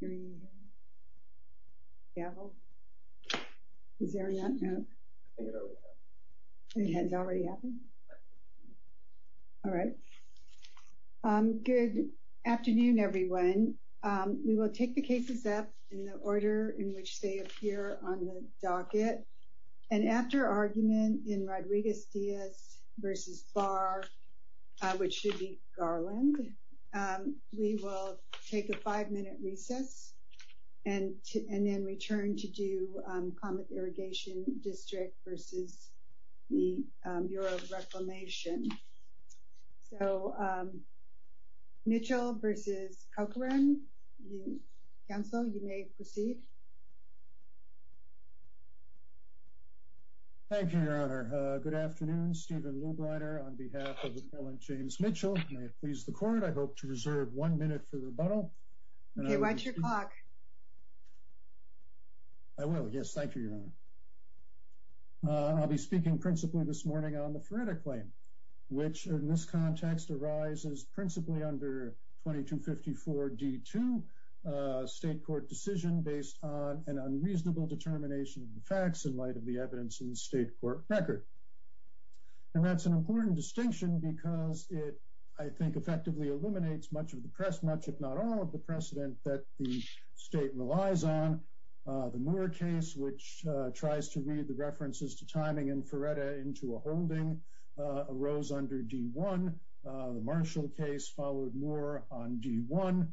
Good afternoon, everyone. We will take the cases up in the order in which they appear on the docket, and after argument in Rodriguez-Diaz v. Barr, which should be Garland, we will take a five-minute recess and then return to do comment irrigation district versus the Bureau of Reclamation. So Mitchell v. Corcoran, counsel, you may proceed. Thank you, Your Honor. Good afternoon. Stephen Luebreiner on behalf of Appellant for the rebuttal. Okay, watch your clock. I will. Yes, thank you, Your Honor. I'll be speaking principally this morning on the Feretta Claim, which in this context arises principally under 2254 D-2, a state court decision based on an unreasonable determination of the facts in light of the evidence in the state court record. And that's an important distinction because it, I think, effectively eliminates much of the precedent, if not all of the precedent, that the state relies on. The Moore case, which tries to read the references to timing in Feretta into a holding, arose under D-1. The Marshall case followed Moore on D-1.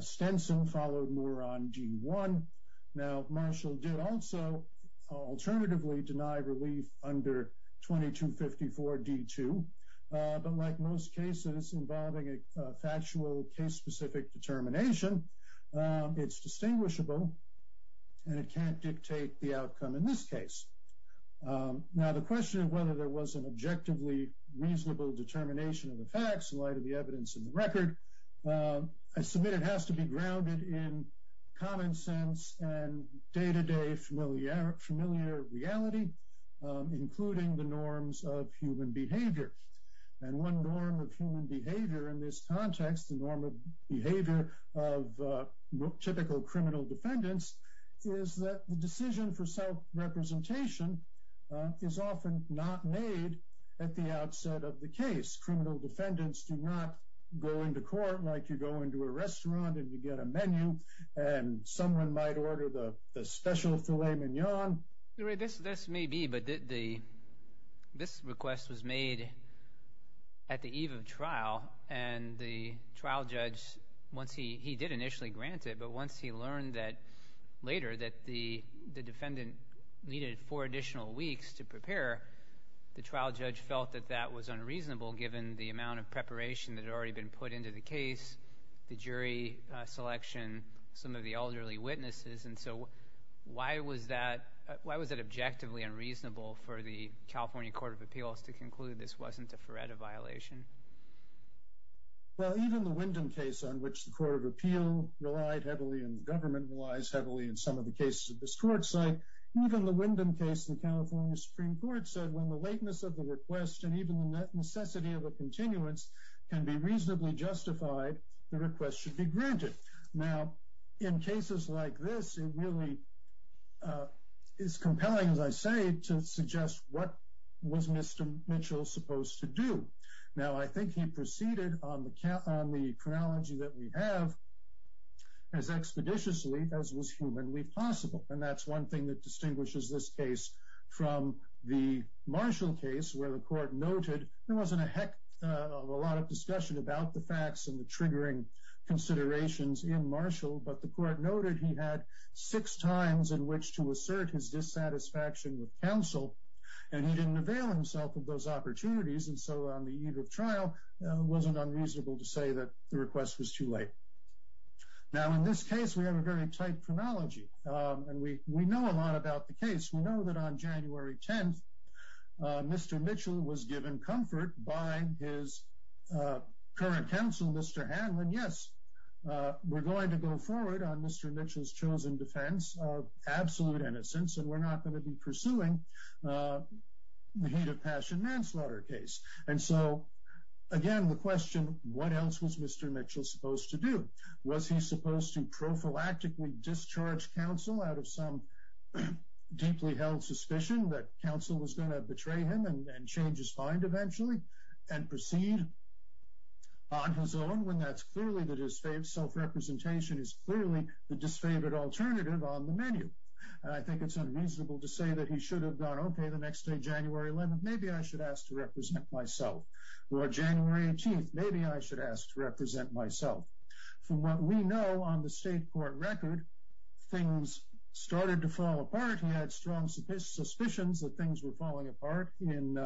Stenson followed Moore on D-1. Now, Marshall did also alternatively deny relief under 2254 D-2. But like most cases involving a factual case-specific determination, it's distinguishable and it can't dictate the outcome in this case. Now, the question of whether there was an objectively reasonable determination of the facts in light of the evidence in the record, I submit it has to be grounded in common sense and day-to-day familiar reality, including the norms of human behavior. And one norm of human behavior in this context, the norm of behavior of typical criminal defendants, is that the decision for self-representation is often not made at the outset of the case. Criminal defendants do not go into court like you go into a restaurant and you get a menu and someone might order the special filet mignon. This may be, but this request was made at the eve of trial and the trial judge, once he did initially grant it, but once he learned that later that the defendant needed four additional weeks to prepare, the trial judge felt that that was unreasonable given the amount of preparation that had already been put into the case, the jury selection, some of the elderly witnesses, and so why was that, why was it objectively unreasonable for the California Court of Appeals to conclude this wasn't a FERETA violation? Well, even the Wyndham case on which the Court of Appeal relied heavily and the government relies heavily in some of the cases of this court site, even the Wyndham case in the California Supreme Court said when the lateness of the request and even the necessity of a continuance can be reasonably justified, the request should be granted. Now, in cases like this, it really is compelling, as I say, to suggest what was Mr. Mitchell supposed to do. Now, I think he proceeded on the chronology that we have as expeditiously as was humanly possible, and that's one thing that distinguishes this case from the Marshall case where the court noted there wasn't a heck of a lot of discussion about the facts and the triggering considerations in Marshall, but the court noted he had six times in which to assert his dissatisfaction with counsel, and he didn't avail himself of those opportunities, and so on the eve of trial, it wasn't unreasonable to say that the request was too late. Now, in this case, we have a very about the case. We know that on January 10th, Mr. Mitchell was given comfort by his current counsel, Mr. Hanlon, yes, we're going to go forward on Mr. Mitchell's chosen defense of absolute innocence, and we're not going to be pursuing the hate of passion manslaughter case. And so, again, the question, what else was Mr. Mitchell supposed to do? Was he supposed to prophylactically discharge counsel out of some deeply held suspicion that counsel was going to betray him and change his mind eventually and proceed on his own when that's clearly the disfavored self-representation is clearly the disfavored alternative on the menu? And I think it's unreasonable to say that he should have gone, okay, the next day, January 11th, maybe I should ask to represent myself. Or January 18th, maybe I should ask to represent myself. From what we know on the state court record, things started to fall apart. He had strong suspicions that things were falling apart. In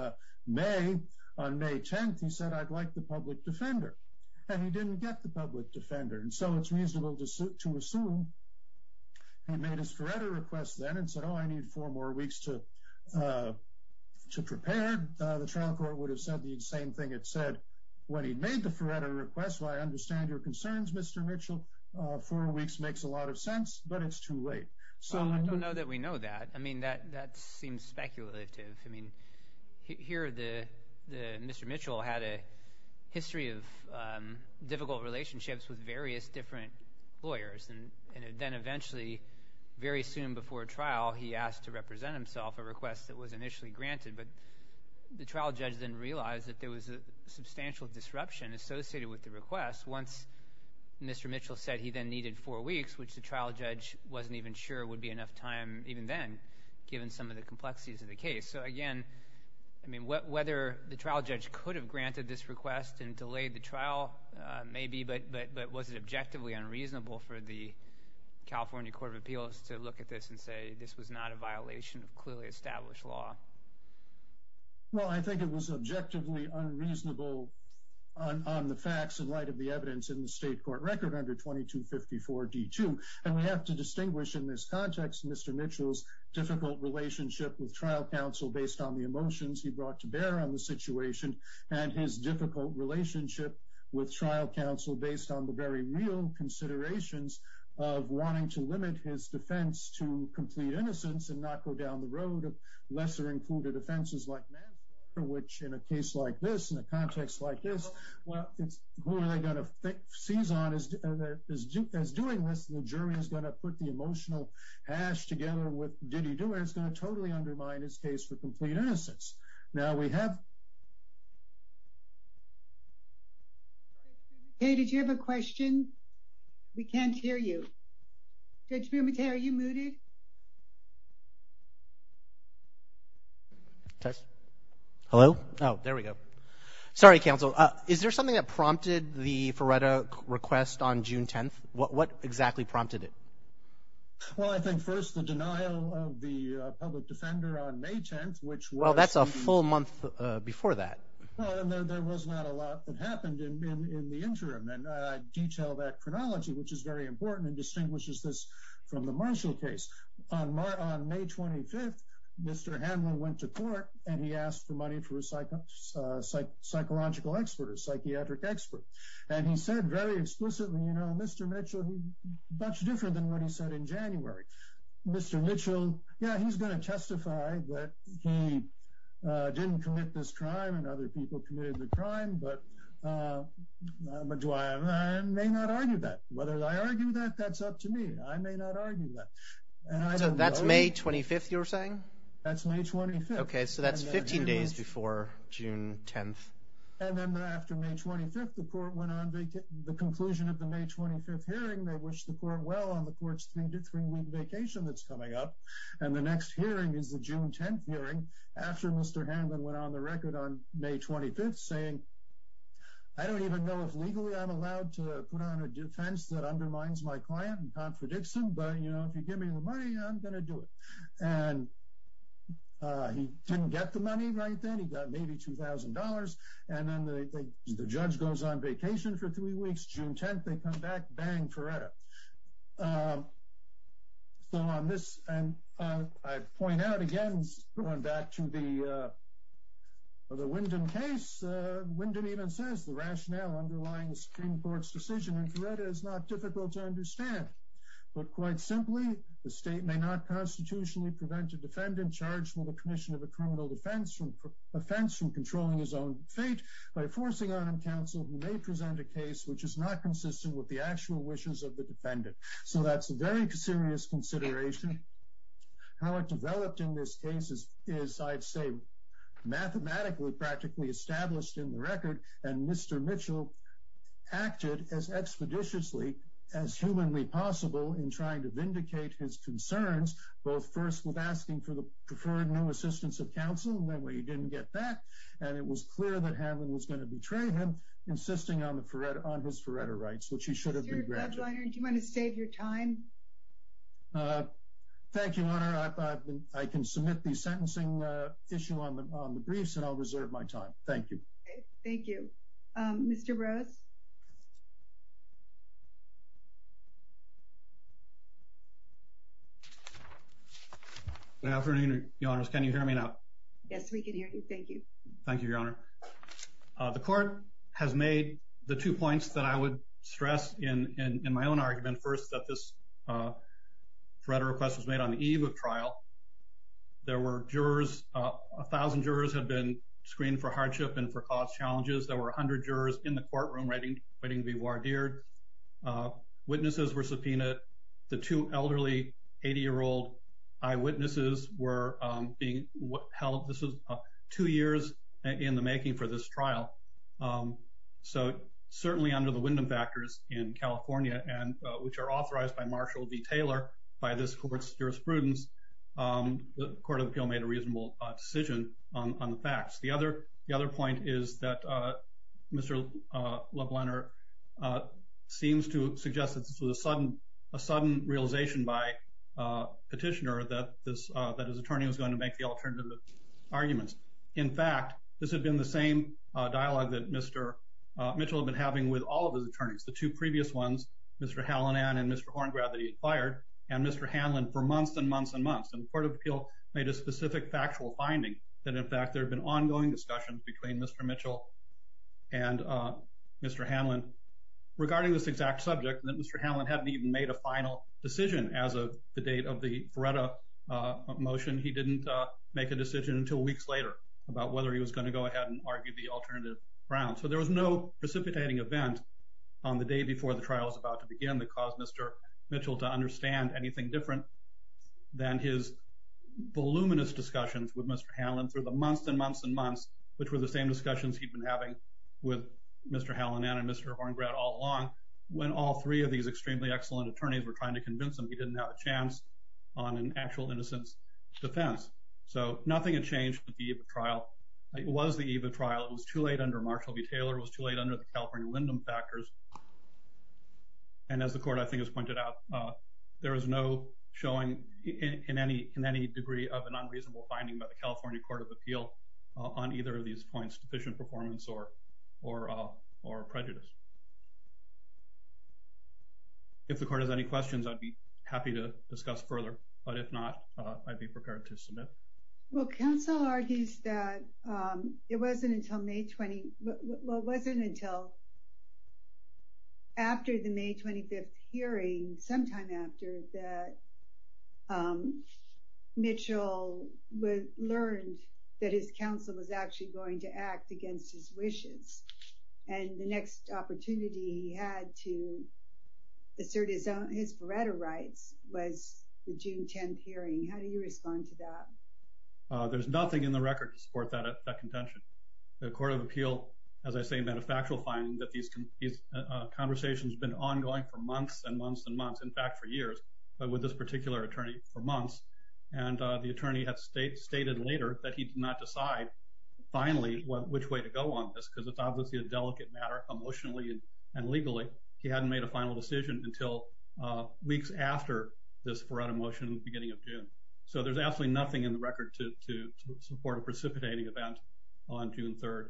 May, on May 10th, he said, I'd like the public defender. And he didn't get the public defender. And so it's reasonable to assume he made his Faretto request then and said, oh, I need four more weeks to prepare. The trial court would have said the same thing. It said, when he made the Faretto request, I understand your concerns, Mr. Mitchell. Four weeks makes a lot of sense, but it's too late. So I don't know that we know that. I mean, that seems speculative. I mean, here, Mr. Mitchell had a history of difficult relationships with various different lawyers. And then eventually, very soon before trial, he asked to represent himself, a request that was initially granted. But the trial judge then realized that there was a substantial disruption associated with the request once Mr. Mitchell said he then needed four weeks, which the trial judge wasn't even sure would be enough time even then, given some of the complexities of the case. So again, I mean, whether the trial judge could have granted this request and delayed the trial, maybe, but was it objectively unreasonable for the California Court of Appeals to look at this and say this was not a violation of clearly established law? Well, I think it was objectively unreasonable on the facts in light of the evidence in the state court record under 2254 D2. And we have to distinguish in this context Mr. Mitchell's difficult relationship with trial counsel based on the emotions he brought to bear on the situation and his difficult relationship with trial counsel based on the very real considerations of wanting to limit his defense to complete innocence and not go down the road of lesser-included offenses like manslaughter, which in a case like this, in a context like this, well, who are they going to seize on as doing this? The jury is going to put the emotional hash together with, did he do it? It's going to totally undermine his case for complete innocence. Now we have... Okay, did you have a question? We can't hear you. Judge Bermute, are you muted? Test. Hello? Oh, there we go. Sorry, counsel. Is there something that prompted the Faretta request on June 10th? What exactly prompted it? Well, I think first the denial of the public defender on May 10th, which was... That's a full month before that. There was not a lot that happened in the interim, and I detail that chronology, which is very important and distinguishes this from the Marshall case. On May 25th, Mr. Hanlon went to court and he asked for money for a psychological expert, a psychiatric expert, and he said very explicitly, Mr. Mitchell, much different than what he said in January. Mr. Mitchell, yeah, he's going to testify that he didn't commit this crime and other people committed the crime, but I may not argue that. Whether I argue that, that's up to me. I may not argue that. That's May 25th, you're saying? That's May 25th. Okay, so that's 15 days before June 10th. And then after May 25th, the court went on the conclusion of the May 25th hearing. They coming up, and the next hearing is the June 10th hearing after Mr. Hanlon went on the record on May 25th saying, I don't even know if legally I'm allowed to put on a defense that undermines my client and contradicts him, but if you give me the money, I'm going to do it. And he didn't get the money right then. He got maybe $2,000. And then the judge goes on and I point out again, going back to the Wyndham case, Wyndham even says, the rationale underlying the Supreme Court's decision in Florida is not difficult to understand. But quite simply, the state may not constitutionally prevent a defendant charged with a commission of a criminal offense from controlling his own fate by forcing on him counsel who may present a case which is not consistent with the actual wishes of the defendant. So that's a very serious consideration. How it developed in this case is, I'd say, mathematically practically established in the record. And Mr. Mitchell acted as expeditiously, as humanly possible, in trying to vindicate his concerns, both first with asking for the preferred new assistance of counsel, and that way he didn't get that. And it was clear that Hanlon was going to betray him, insisting on his Faretta rights, which he should have been granted. Do you want to save your time? Thank you, Your Honor. I can submit the sentencing issue on the briefs and I'll reserve my time. Thank you. Thank you. Mr. Rose? Good afternoon, Your Honors. Can you hear me now? Yes, we can hear you. Thank you. Thank you, Your Honor. The court has made the two points that I would stress in my own argument. First, that this Faretta request was made on the eve of trial. There were jurors, a thousand jurors had been screened for hardship and for cause challenges. There were a hundred jurors in the courtroom waiting to be wardered. Witnesses were subpoenaed. The two elderly 80-year-old eyewitnesses were being held. This was two years in the making for this trial. So certainly under the Wyndham factors in California, and which are authorized by Marshall v. Taylor by this court's jurisprudence, the Court of Appeal made a reasonable decision on the facts. The other point is that Mr. LeBlanc seems to suggest that this was a sudden realization by the petitioner that his attorney was going to make the alternative arguments. In fact, this had been the same dialogue that Mr. Mitchell had been having with all of his attorneys. The two previous ones, Mr. Hallinan and Mr. Horngrave that he had fired, and Mr. Hanlon for months and months and months. And the Court of Appeal made a specific factual finding that in fact there had been ongoing discussions between Mr. Mitchell and Mr. Hanlon regarding this exact subject, that Mr. Hanlon hadn't even made a final decision as of the date of the Vreda motion. He didn't make a decision until weeks later about whether he was going to go ahead and argue the alternative round. So there was no precipitating event on the day before the trial was about to begin that caused Mr. Mitchell to understand anything different than his voluminous discussions with Mr. Hanlon through the months and months and months, which were the same discussions he'd been having with Mr. Hallinan and Mr. Horngrave all along, when all three of these extremely excellent attorneys were trying to convince him he didn't have a chance on an actual innocence defense. So nothing had changed at the eve of the trial. It was the eve of the trial. It was too late under Marshall v. Taylor. It was too late under the California Lindum factors. And as the Court, I think, has pointed out, there is no showing in any degree of an unreasonable finding by the California Court of Appeal on either of these points, deficient performance or prejudice. If the Court has any questions, I'd be happy to discuss further, but if not, I'd be prepared to submit. Well, counsel argues that it wasn't until May 20, well, it wasn't until after the May 25 hearing, sometime after, that Mitchell learned that his counsel was actually going to act against his wishes. And the next opportunity he had to assert his vereda rights was the June 10 hearing. How do you respond to that? There's nothing in the record to support that contention. The Court of Appeal has been in these conversations, been ongoing for months and months and months, in fact, for years, but with this particular attorney for months. And the attorney had stated later that he did not decide finally which way to go on this, because it's obviously a delicate matter emotionally and legally. He hadn't made a final decision until weeks after this vereda motion in the beginning of June. So there's absolutely nothing in the record to support a precipitating event on June 3rd.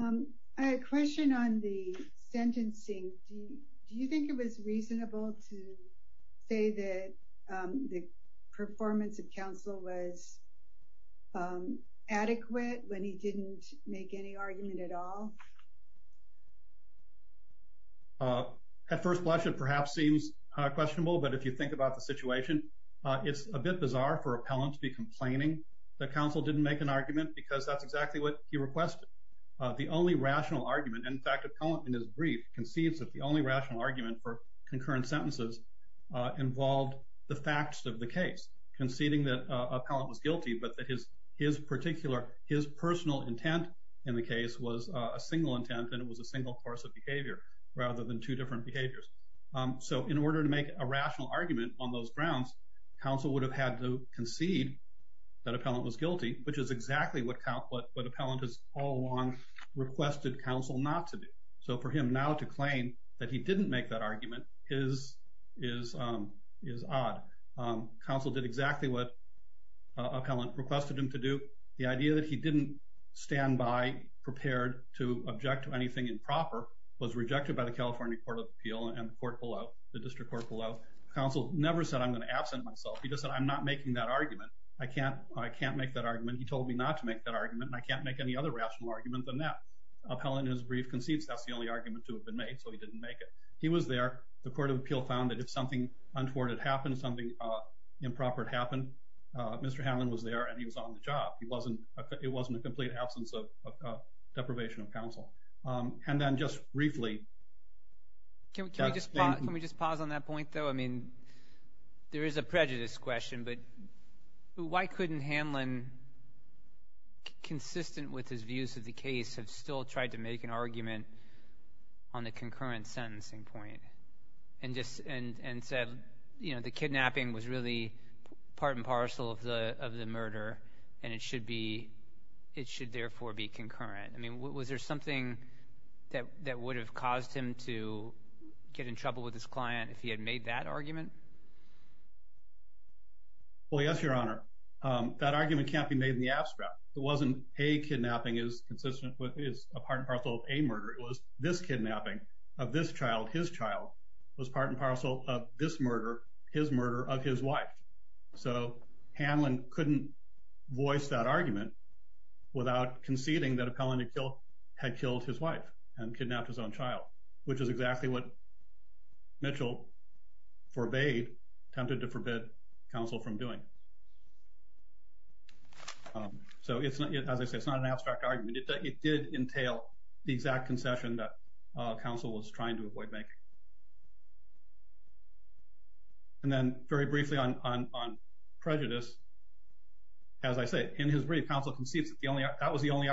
I had a question on the sentencing. Do you think it was reasonable to say that the performance of counsel was adequate when he didn't make any argument at all? At first blush, it perhaps seems questionable, but if you think about the situation, it's a bit bizarre for appellant to be complaining that counsel didn't make an argument because that's exactly what he requested. The only rational argument, in fact, appellant in his brief concedes that the only rational argument for concurrent sentences involved the facts of the case, conceding that appellant was guilty, but that his personal intent in the case was a single intent and it was a single course of behavior rather than two different behaviors. So in order to make a rational argument on those grounds, counsel would have had to concede that appellant was guilty, which is exactly what appellant has all along requested counsel not to do. So for him now to claim that he didn't make that argument is odd. Counsel did exactly what appellant requested him to do. The idea that he didn't stand by prepared to object to anything improper was counsel never said I'm going to absent myself. He just said I'm not making that argument. I can't make that argument. He told me not to make that argument and I can't make any other rational argument than that. Appellant in his brief concedes that's the only argument to have been made, so he didn't make it. He was there. The court of appeal found that if something untoward had happened, something improper had happened, Mr. Hammond was there and he was on the job. It wasn't a complete absence of deprivation of counsel. And then just briefly... Can we just pause on that point, though? I mean, there is a prejudice question, but why couldn't Hamlin, consistent with his views of the case, have still tried to make an argument on the concurrent sentencing point and said the kidnapping was really part and parcel of the murder and it should therefore be concurrent? I mean, was there something that would have caused him to get in trouble with his client if he had made that argument? Well, yes, Your Honor. That argument can't be made in the abstract. It wasn't a kidnapping is consistent with is a part and parcel of a murder. It was this kidnapping of this child, his child, was part and parcel of this murder, his murder of his wife. So Hamlin couldn't voice that argument without conceding that appellant had killed his wife and kidnapped his own child. Which is exactly what Mitchell forbade, attempted to forbid counsel from doing. So as I said, it's not an abstract argument. It did entail the exact concession that counsel was trying to avoid making. And then very briefly on prejudice, as I said, in his brief, counsel concedes that was the only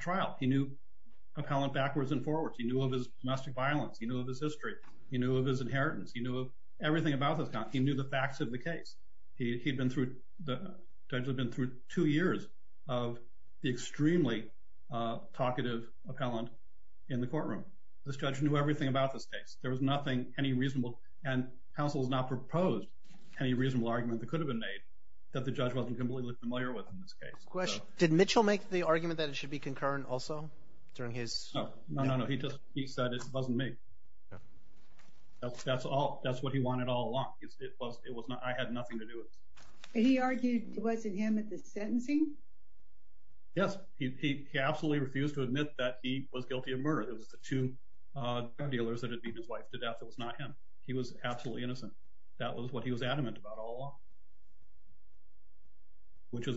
trial he knew appellant backwards and forwards. He knew of his domestic violence. He knew of his history. He knew of his inheritance. He knew of everything about this. He knew the facts of the case. He'd been through, the judge had been through two years of the extremely talkative appellant in the courtroom. This judge knew everything about this case. There was nothing, any reasonable, and counsel has not proposed any reasonable argument that could have been made that the judge wasn't completely familiar with in this case. Did Mitchell make the argument that it be concurrent also during his? No, no, no. He just, he said it wasn't me. That's what he wanted all along. It was not, I had nothing to do with it. He argued it wasn't him at the sentencing? Yes. He absolutely refused to admit that he was guilty of murder. It was the two dealers that had beaten his wife to death. It was not him. He was absolutely innocent. That was what he was adamant about all along.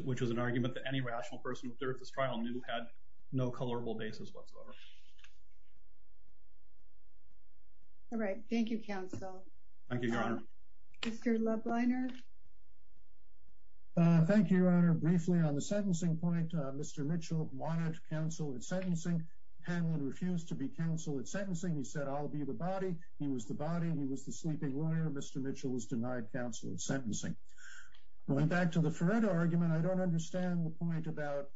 Which was an argument that any rational person there at this trial knew had no colorable basis whatsoever. All right. Thank you, counsel. Thank you, your honor. Mr. Loveliner. Thank you, your honor. Briefly on the sentencing point, Mr. Mitchell wanted counsel at sentencing. Hanlon refused to be counsel at sentencing. He said, I'll be the body. He was the body. He was the sleeping lawyer. Mr. Mitchell was denied counsel at sentencing. Going back to the Ferretta argument, I don't understand the point about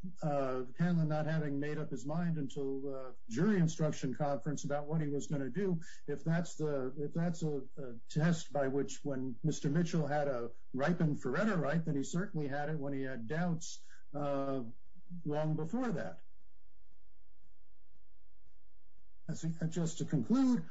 Hanlon not having made up his mind until jury instruction conference about what he was going to do. If that's a test by which when Mr. Mitchell had a ripened Ferretta right, then he certainly had it when he had doubts long before that. Just to conclude,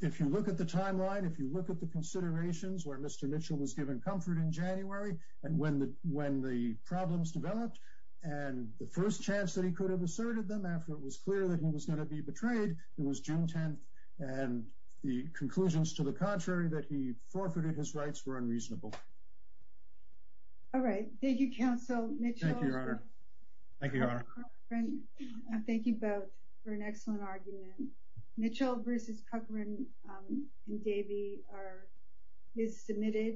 if you look at the timeline, if you look at the considerations where Mr. Mitchell was given comfort in January and when the problems developed and the first chance that he could have asserted them after it was clear that he was going to be betrayed, it was June 10th. And the conclusions to the contrary that he forfeited his rights were unreasonable. All right. Thank you, counsel. Thank you, your honor. Thank you, your honor. I thank you both for an excellent argument. Mitchell versus Cochran and Davey is submitted.